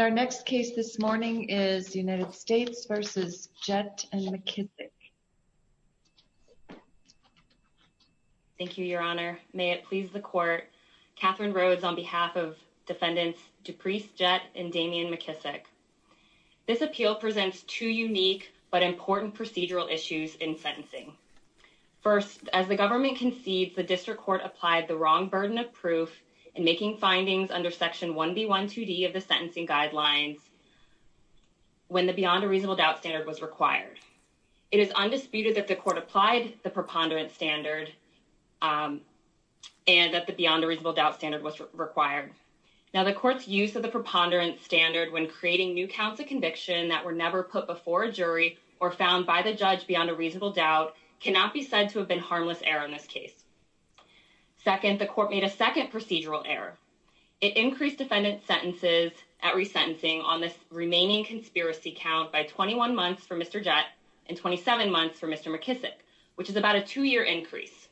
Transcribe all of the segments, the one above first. Our next case this morning is United States v. Jett and McKissick. Thank you, Your Honor. May it please the Court, Catherine Rhodes on behalf of defendants Duprece Jett and Damian McKissick. This appeal presents two unique but important procedural issues in sentencing. First, as the government concedes the District Court applied the wrong burden of proof in making findings under Section 1B.1.2.d of the sentencing guidelines when the beyond a reasonable doubt standard was required. It is undisputed that the Court applied the preponderance standard and that the beyond a reasonable doubt standard was required. Now, the Court's use of the preponderance standard when creating new counts of conviction that were never put before a jury or found by the judge beyond a reasonable doubt cannot be said to have been error in this case. Second, the Court made a second procedural error. It increased defendant's sentences at resentencing on this remaining conspiracy count by 21 months for Mr. Jett and 27 months for Mr. McKissick, which is about a two-year increase.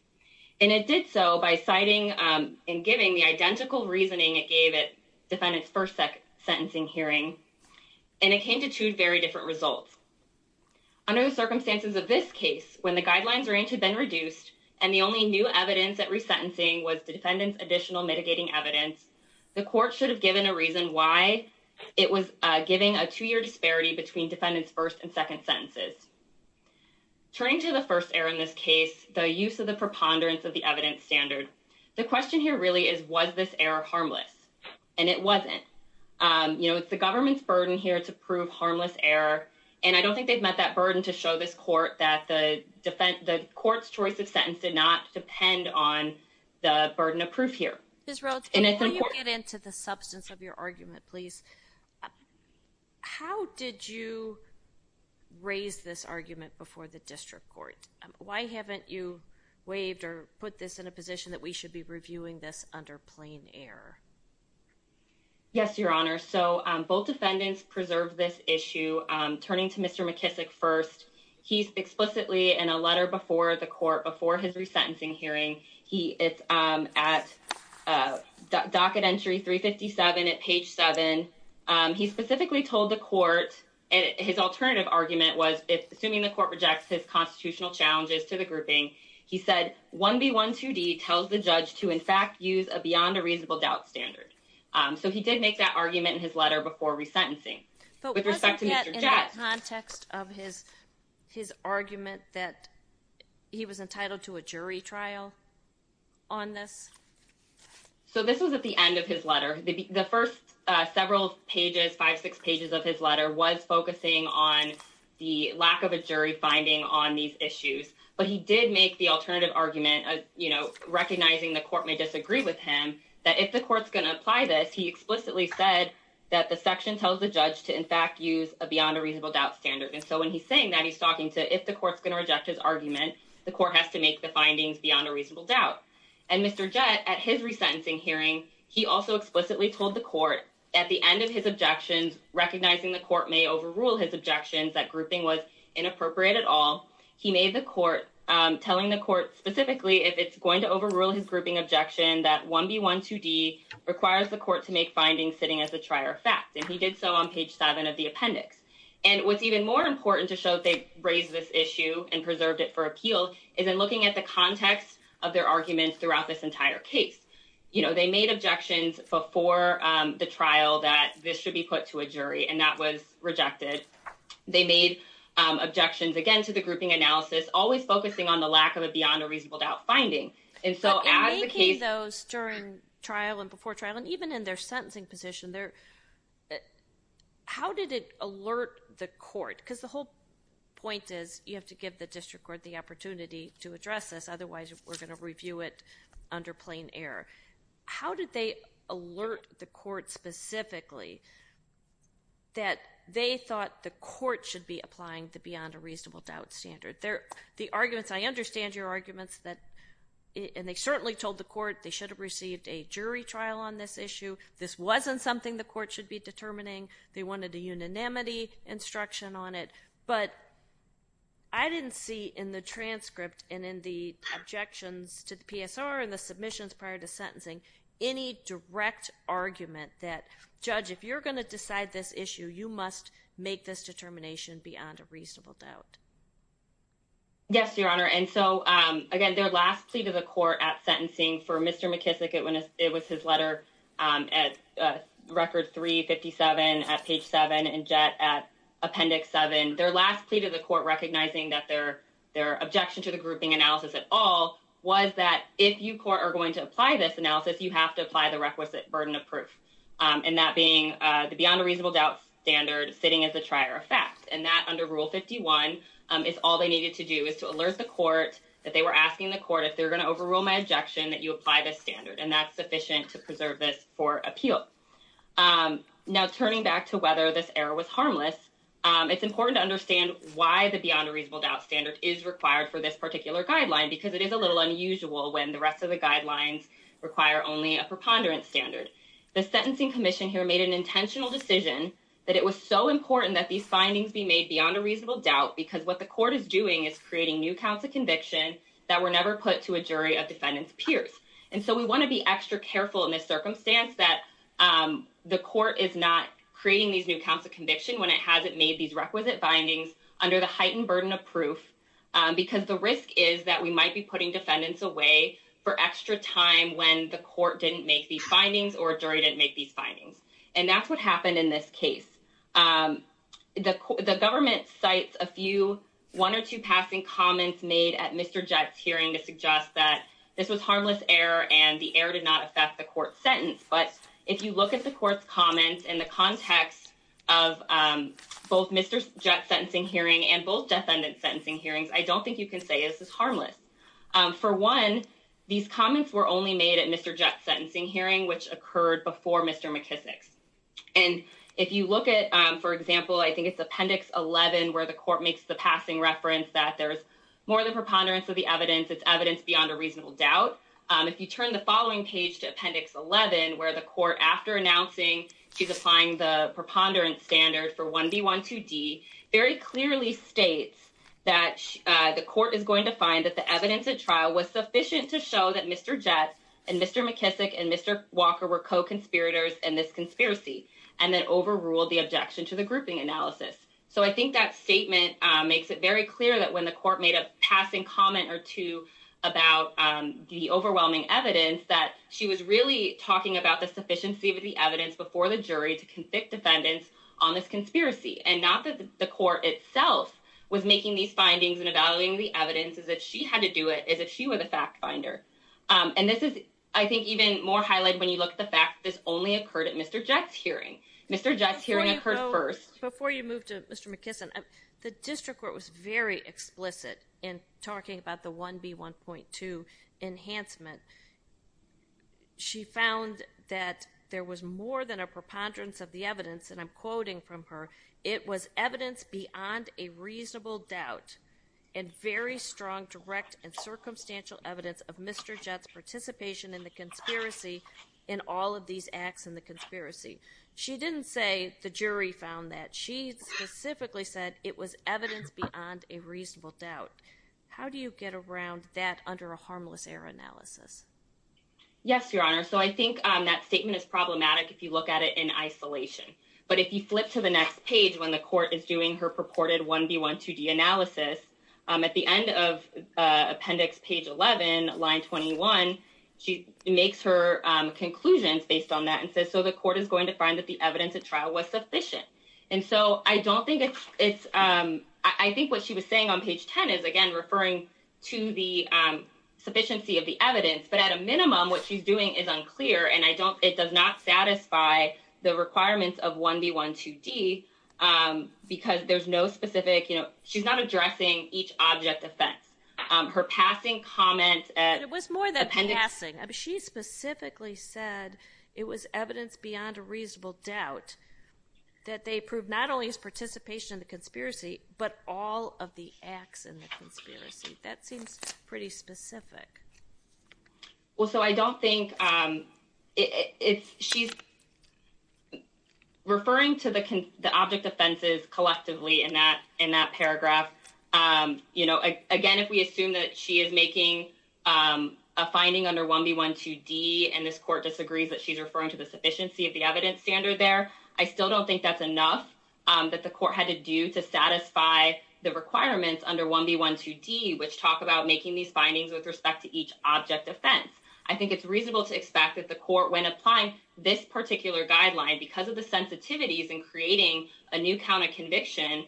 And it did so by citing and giving the identical reasoning it gave at defendant's first sentencing hearing, and it came to two very different results. Under the circumstances of this case, when the only new evidence at resentencing was the defendant's additional mitigating evidence, the Court should have given a reason why it was giving a two-year disparity between defendant's first and second sentences. Turning to the first error in this case, the use of the preponderance of the evidence standard, the question here really is, was this error harmless? And it wasn't. You know, it's the government's burden here to prove harmless error, and I don't think they've that burden to show this Court that the Court's choice of sentence did not depend on the burden of proof here. Ms. Rhodes, before you get into the substance of your argument, please, how did you raise this argument before the District Court? Why haven't you waived or put this in a position that we should be reviewing this under plain error? Yes, Your Honor. So, both defendants preserved this issue. Turning to Mr. McKissick first, he's explicitly in a letter before the Court, before his resentencing hearing, he is at docket entry 357 at page 7. He specifically told the Court, and his alternative argument was, assuming the Court rejects his constitutional challenges to the grouping, he said, 1B12D tells the judge to, in fact, use a beyond a reasonable doubt standard. So, he did make that argument in his letter before resentencing. But with respect to Mr. Jett... But was it yet in the context of his argument that he was entitled to a jury trial on this? So, this was at the end of his letter. The first several pages, five, six pages of his letter was focusing on the lack of a jury finding on these issues. But he did make the alternative argument, recognizing the Court may disagree with him, that if the Court's going to apply this, he explicitly said that the section tells the judge to, in fact, use a beyond a reasonable doubt standard. And so, when he's saying that, he's talking to, if the Court's going to reject his argument, the Court has to make the findings beyond a reasonable doubt. And Mr. Jett, at his resentencing hearing, he also explicitly told the Court, at the end of his objections, recognizing the Court may overrule his objections, that grouping was inappropriate at all. He made the if it's going to overrule his grouping objection, that 1B12D requires the Court to make findings sitting as a trier of fact. And he did so on page seven of the appendix. And what's even more important to show that they raised this issue and preserved it for appeal is in looking at the context of their arguments throughout this entire case. They made objections before the trial that this should be put to a jury, and that was rejected. They made objections, again, to the reasonable doubt finding. And so, as the case... But in making those during trial and before trial, and even in their sentencing position, how did it alert the Court? Because the whole point is, you have to give the District Court the opportunity to address this. Otherwise, we're going to review it under plain error. How did they alert the Court specifically that they thought the Court should be applying the and they certainly told the Court they should have received a jury trial on this issue. This wasn't something the Court should be determining. They wanted a unanimity instruction on it. But I didn't see in the transcript and in the objections to the PSR and the submissions prior to sentencing any direct argument that, Judge, if you're going to decide this issue, you must make this determination beyond a reasonable doubt. Yes, Your Honor. And so, again, their last plea to the Court at sentencing for Mr. McKissick, it was his letter at record 357 at page 7 and Jett at appendix 7. Their last plea to the Court recognizing that their objection to the grouping analysis at all was that if you, Court, are going to apply this analysis, you have to apply the requisite burden of proof. And that being the standard sitting as the trier of fact. And that under Rule 51 is all they needed to do, is to alert the Court that they were asking the Court if they're going to overrule my objection, that you apply this standard. And that's sufficient to preserve this for appeal. Now, turning back to whether this error was harmless, it's important to understand why the beyond a reasonable doubt standard is required for this particular guideline, because it is a little unusual when the rest of the guidelines require only a preponderance standard. The Sentencing Commission here made an intentional decision that it was so important that these findings be made beyond a reasonable doubt, because what the Court is doing is creating new counts of conviction that were never put to a jury of defendant's peers. And so, we want to be extra careful in this circumstance that the Court is not creating these new counts of conviction when it hasn't made these requisite findings under the heightened burden of proof, because the risk is that we might be putting defendants away for extra time when the Court didn't make these findings. And that's what happened in this case. The Government cites a few one or two passing comments made at Mr. Jett's hearing to suggest that this was harmless error and the error did not affect the Court's sentence. But if you look at the Court's comments in the context of both Mr. Jett's sentencing hearing and both defendant's sentencing hearings, I don't think you can say this is harmless. For one, these comments were only made at Mr. Jett's sentencing hearing, which occurred before Mr. McKissick's. And if you look at, for example, I think it's Appendix 11, where the Court makes the passing reference that there's more than preponderance of the evidence, it's evidence beyond a reasonable doubt. If you turn the following page to Appendix 11, where the Court, after announcing she's applying the preponderance standard for 1B12D, very clearly states that the Court is going to find that the evidence at trial was sufficient to show that Mr. Jett and Mr. McKissick and Mr. Walker were co-conspirators in this conspiracy, and then overruled the objection to the grouping analysis. So I think that statement makes it very clear that when the Court made a passing comment or two about the overwhelming evidence, that she was really talking about the sufficiency of the evidence before the jury to convict defendants on this conspiracy, and not that the Court itself was making these findings and evaluating the evidence, as if she had to do it, as if she were the fact finder. And this is, I think, even more highlighted when you look at the fact that this only occurred at Mr. Jett's hearing. Mr. Jett's hearing occurred first. Before you move to Mr. McKissick, the District Court was very explicit in talking about the 1B1.2 enhancement. She found that there was more than a preponderance of the evidence, and I'm quoting from her, it was evidence beyond a reasonable doubt and very strong direct and circumstantial evidence of Mr. Jett's participation in the conspiracy, in all of these acts in the conspiracy. She didn't say the jury found that. She specifically said it was evidence beyond a reasonable doubt. How do you get around that under a harmless error analysis? Yes, Your Honor. So I think that statement is problematic if you look at it in isolation. But if you flip to the next page, when the Court is doing her purported 1B1.2D analysis, at the end of appendix page 11, line 21, she makes her conclusions based on that and says, so the Court is going to find that the evidence at trial was sufficient. And so I don't think it's, I think what she was saying on page 10 is, again, referring to the sufficiency of the evidence. But at a minimum, what she's doing is unclear, and I don't, it does not satisfy the requirements of 1B1.2D, because there's no specific, you know, she's not addressing each object offense. Her passing comment at appendix- It was more than passing. She specifically said it was evidence beyond a reasonable doubt that they proved not only his participation in the conspiracy, but all of the acts in the conspiracy. That seems pretty specific. Well, so I don't think it's, she's referring to the object offenses collectively in that, in that paragraph. You know, again, if we assume that she is making a finding under 1B1.2D, and this Court disagrees that she's referring to the sufficiency of the evidence standard there, I still don't think that's enough that the Court had to do to satisfy the requirements under 1B1.2D, which talk about making these findings with respect to each object offense. I think it's reasonable to expect that the Court, when applying this particular guideline, because of the sensitivities in creating a new count of conviction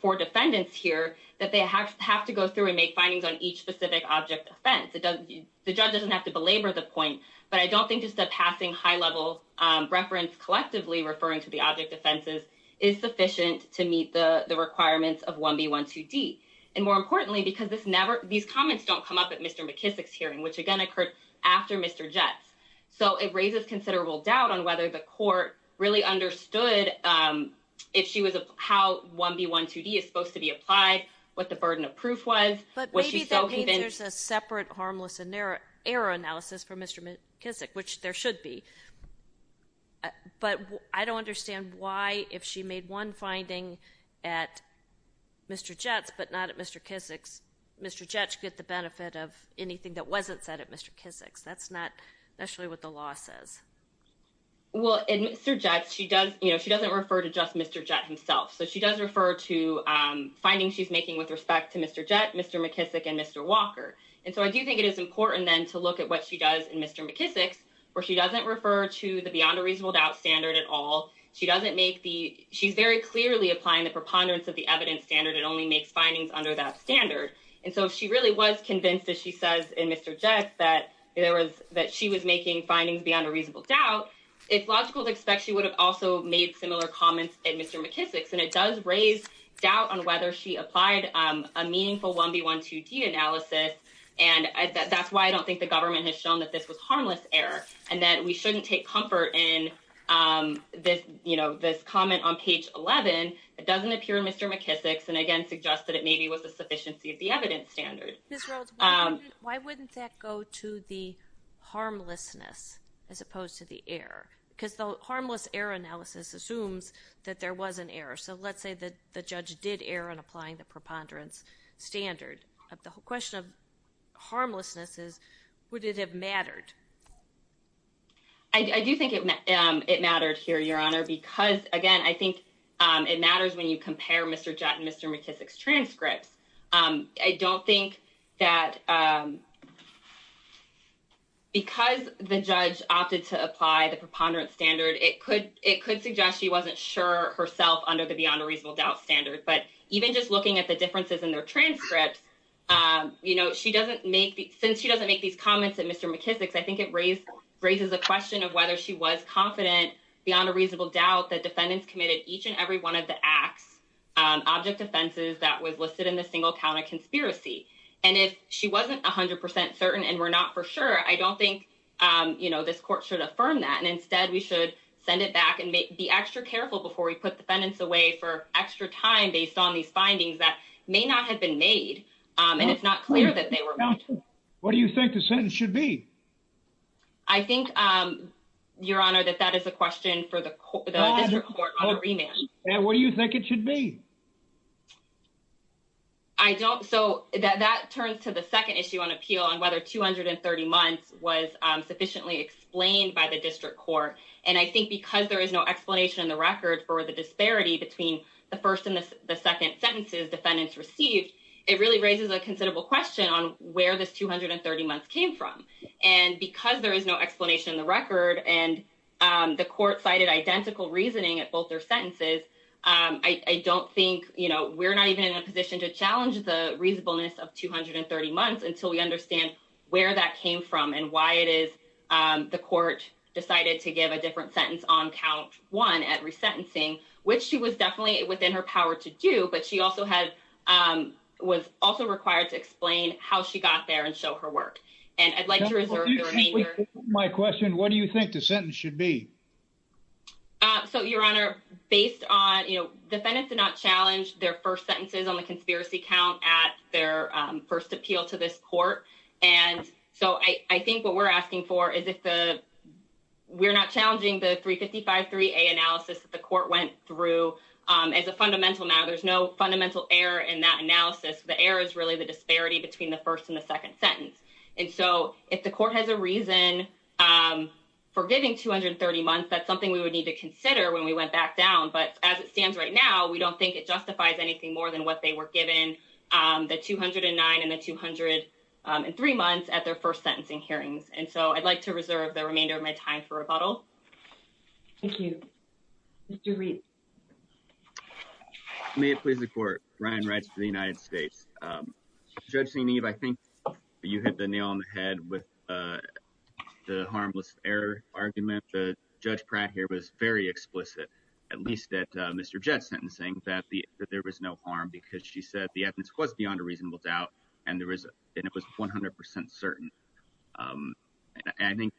for defendants here, that they have to go through and make findings on each specific object offense. The judge doesn't have to belabor the point, but I don't think just a passing high-level reference collectively referring to the object offenses is sufficient to meet the requirements of 1B1.2D. And more importantly, because these comments don't come up at Mr. McKissick's hearing, which again occurred after Mr. Jett's. So it raises considerable doubt on whether the Court really understood how 1B1.2D is supposed to be applied, what the burden of proof was. But maybe that means there's a separate harmless error analysis for Mr. McKissick, which there should be. But I don't understand why, if she made one finding at Mr. Jett's, but not at Mr. McKissick's, Mr. Jett should get the benefit of anything that wasn't said at Mr. McKissick's. That's not necessarily what the law says. Well, in Mr. Jett's, she doesn't refer to just Mr. Jett himself. So she does refer to findings she's making with respect to Mr. Jett, Mr. McKissick, and Mr. Walker. And so I do think it is important then to look at what she does in Mr. McKissick's, where she doesn't refer to the beyond a reasonable doubt standard at all. She's very clearly applying the preponderance of the evidence standard and only makes findings under that standard. And so if she really was convinced, as she says in Mr. Jett's, that she was making findings beyond a reasonable doubt, it's logical to expect she would have also made similar comments at Mr. McKissick's. And it does raise doubt on whether she applied a meaningful 1B, 12D analysis. And that's why I don't think the government has shown that this was harmless error, and that we shouldn't take comfort in this comment on page 11. It doesn't appear in Mr. McKissick's, and again, suggests that it maybe was the sufficiency of the evidence standard. Ms. Rhodes, why wouldn't that go to the harmlessness as opposed to the error? Because the harmless error analysis assumes that there was an error. So let's say that judge did err on applying the preponderance standard. The question of harmlessness is, would it have mattered? I do think it mattered here, Your Honor, because again, I think it matters when you compare Mr. Jett and Mr. McKissick's transcripts. I don't think that because the judge opted to apply the preponderance standard, it could suggest she wasn't sure herself under the beyond a reasonable doubt standard. But even just looking at the differences in their transcripts, since she doesn't make these comments at Mr. McKissick's, I think it raises a question of whether she was confident beyond a reasonable doubt that defendants committed each and every one of the acts, object offenses that was listed in the single count of conspiracy. And if she wasn't 100% certain and we're not for sure, I don't think this court should affirm that. And instead, we should send it back and be extra careful before we put defendants away for extra time based on these findings that may not have been made. And it's not clear that they were. What do you think the sentence should be? I think, Your Honor, that that is a question for the court. What do you think it should be? I don't. So that turns to the second issue on appeal on whether 230 months was sufficiently explained by the district court. And I think because there is no explanation in the record for the disparity between the first and the second sentences defendants received, it really raises a considerable question on where this 230 months came from. And because there is no explanation in the record and the court cited identical reasoning at both their sentences, I don't think, you know, we're not even in a position to challenge the reasonableness of the court decided to give a different sentence on count one at resentencing, which she was definitely within her power to do. But she also had was also required to explain how she got there and show her work. And I'd like to reserve my question. What do you think the sentence should be? So, Your Honor, based on, you know, defendants did not challenge their first sentences on the conspiracy count at their first appeal to this court. And so I think what we're asking for is if we're not challenging the 355-3A analysis that the court went through as a fundamental matter. There's no fundamental error in that analysis. The error is really the disparity between the first and the second sentence. And so if the court has a reason for giving 230 months, that's something we would need to consider when we went back down. But as it stands right now, we don't think it justifies anything more than what they were given the 209 and the 203 months at their first sentencing hearings. And so I'd like to reserve the remainder of my time for rebuttal. Thank you. Mr. Reed. May it please the court. Ryan Reitz for the United States. Judge Senev, I think you hit the nail on the head with the harmless error argument. Judge Pratt here was very explicit, at least at Mr. Jett's sentencing, that there was no harm because she said the evidence was beyond a reasonable doubt and it was 100 percent certain. And I think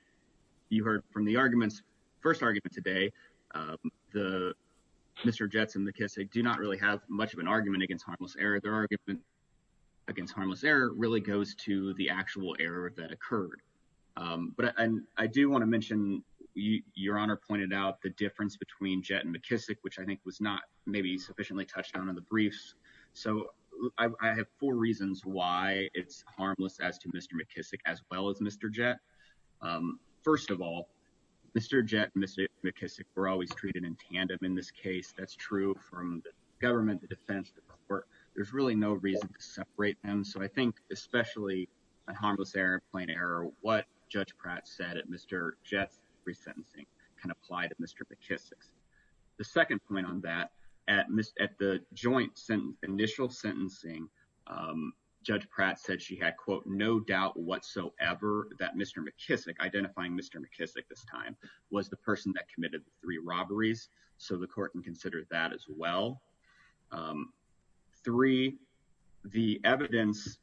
you heard from the arguments, first argument today, Mr. Jett's and McKissick do not really have much of an argument against harmless error. Their argument against harmless error really goes to the actual error that occurred. But I do want to mention, Your Honor pointed out the difference between Jett and McKissick, which I think was not maybe sufficiently touched on in the briefs. So I have four reasons why it's harmless as to Mr. McKissick as well as Mr. Jett. First of all, Mr. Jett and Mr. McKissick were always treated in tandem in this case. That's true from the government, the defense, the court. There's really no reason to separate them. So I think especially a harmless error and plain error, what Judge Pratt said at Mr. Jett's resentencing can apply to Mr. McKissick's. The second point on that, at the joint initial sentencing, Judge Pratt said she had, quote, no doubt whatsoever that Mr. McKissick, identifying Mr. McKissick this time, was the person that committed the three robberies. So the court can consider that as well. Three, the evidence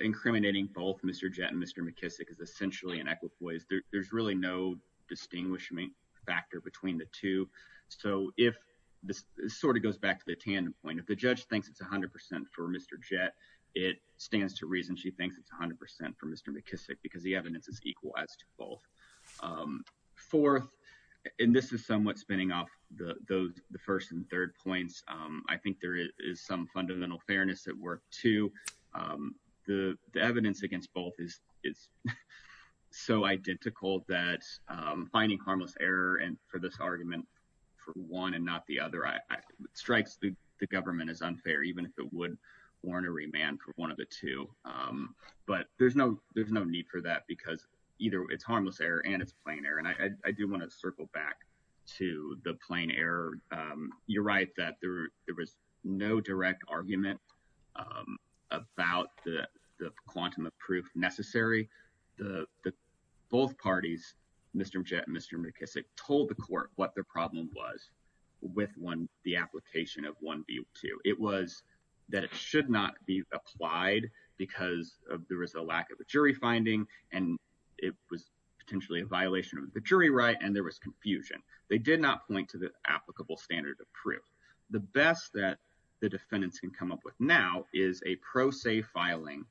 incriminating both Mr. Jett and Mr. McKissick is essentially an equipoise. There's really no distinguishing factor between the two. So if this sort of goes back to the tandem point, if the judge thinks it's 100% for Mr. Jett, it stands to reason she thinks it's 100% for Mr. McKissick because the evidence is equal as to both. Fourth, and this is somewhat spinning off the first and third points, I think there is some fundamental fairness at work, too. The evidence against both is so identical that finding harmless error for this argument for one and not the other strikes the government as unfair, even if it would warrant a remand for one of the two. But there's no need for that because either it's harmless error and it's plain error. And I do want to circle back to the plain error. You're right that there was no direct argument about the quantum of proof necessary. Both parties, Mr. Jett and Mr. McKissick, told the court what their problem was with the application of 1B2. It was that it should not be applied because there was a lack of a jury finding and it was potentially a violation of the jury right and there was confusion. They did not point to the applicable standard of proof. The best that the defendants can come up with now is a pro se filing,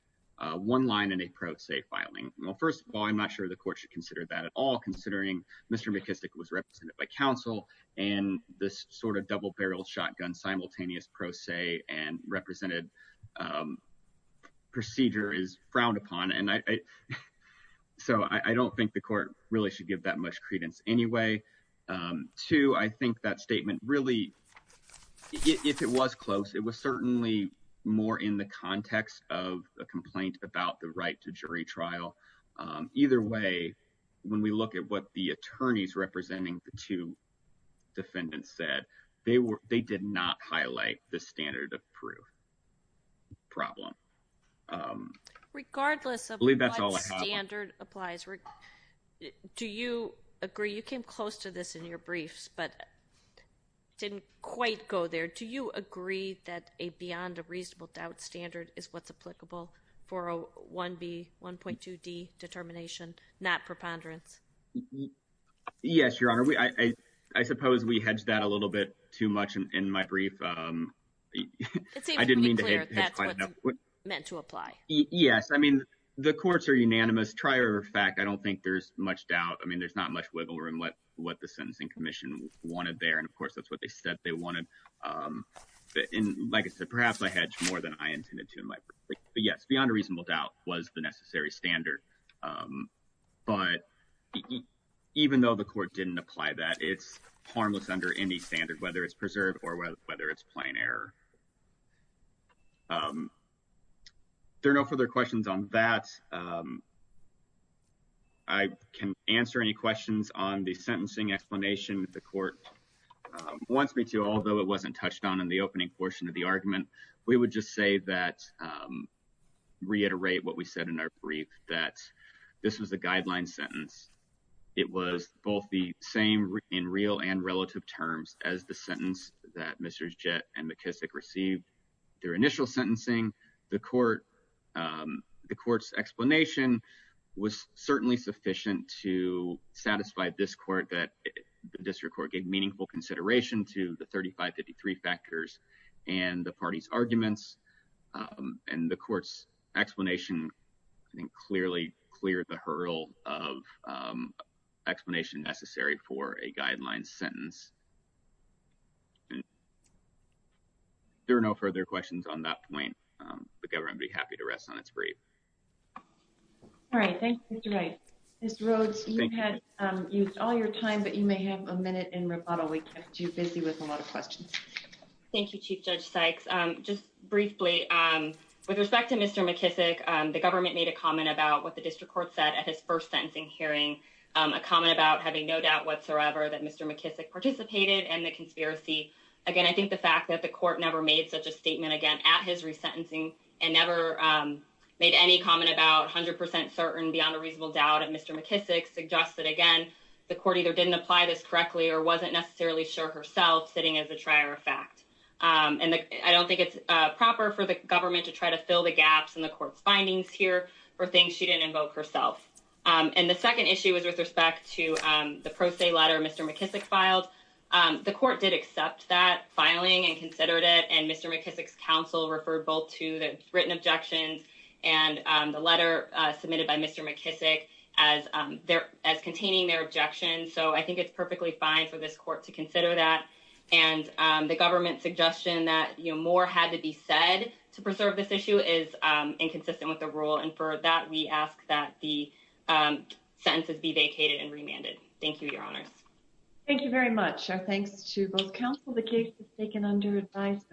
one line and a pro se filing. Well, first of all, I'm not sure the court should consider that at all, considering Mr. McKissick was represented by counsel and this sort of double barrel shotgun simultaneous pro se and represented procedure is frowned upon. And so I don't think the court really should give that much credence anyway. Two, I think that statement really, if it was close, it was certainly more in the context of a complaint about the right to jury trial. Either way, when we look at what the attorneys representing the two defendants said, they did not highlight the standard of proof problem. Um, regardless of standard applies, do you agree? You came close to this in your briefs, but didn't quite go there. Do you agree that a beyond a reasonable doubt standard is what's applicable for a 1B1.2D determination, not preponderance? Yes, Your Honor. I suppose we hedged that a meant to apply. Yes. I mean, the courts are unanimous. Trier of fact, I don't think there's much doubt. I mean, there's not much wiggle room what what the sentencing commission wanted there. And of course, that's what they said they wanted. And like I said, perhaps I hedged more than I intended to. But yes, beyond a reasonable doubt was the necessary standard. But even though the court didn't apply that, it's harmless under any standard, whether it's preserved or whether it's error. Um, there are no further questions on that. Um, I can answer any questions on the sentencing explanation. The court wants me to, although it wasn't touched on in the opening portion of the argument, we would just say that reiterate what we said in our brief that this was a guideline sentence. It was both the same in real and relative terms as the sentence that Mr Jet and McKissick received their initial sentencing. The court the court's explanation was certainly sufficient to satisfy this court that the district court gave meaningful consideration to the 35 53 factors and the party's arguments. And the court's explanation clearly cleared the and there are no further questions on that point. Um, the government be happy to rest on its brief. All right. Thank you. Mr Rhodes, you had used all your time, but you may have a minute in rebuttal. We kept you busy with a lot of questions. Thank you, Chief Judge Sykes. Um, just briefly, um, with respect to Mr McKissick, the government made a comment about what the district court said at his first sentencing hearing a comment about having no doubt whatsoever that Mr McKissick participated in the conspiracy. Again, I think the fact that the court never made such a statement again at his resentencing and never made any comment about 100% certain beyond a reasonable doubt of Mr McKissick suggests that again, the court either didn't apply this correctly or wasn't necessarily sure herself sitting as a trier of fact. Um, and I don't think it's proper for the government to try to fill the gaps in the court's findings here for things she didn't invoke herself. Um, and the second issue is with respect to, um, the pro se letter Mr McKissick filed. Um, the court did accept that filing and considered it. And Mr McKissick's counsel referred both to the written objections and, um, the letter submitted by Mr McKissick as, um, there as containing their objections. So I think it's perfectly fine for this court to consider that. And, um, the government suggestion that, you know, more had to be said to preserve this issue is, um, inconsistent with the rule. And for that, we ask that the, um, sentences be vacated and remanded. Thank you, your honors. Thank you very much. Our thanks to both counsel. The case is taken under advisement.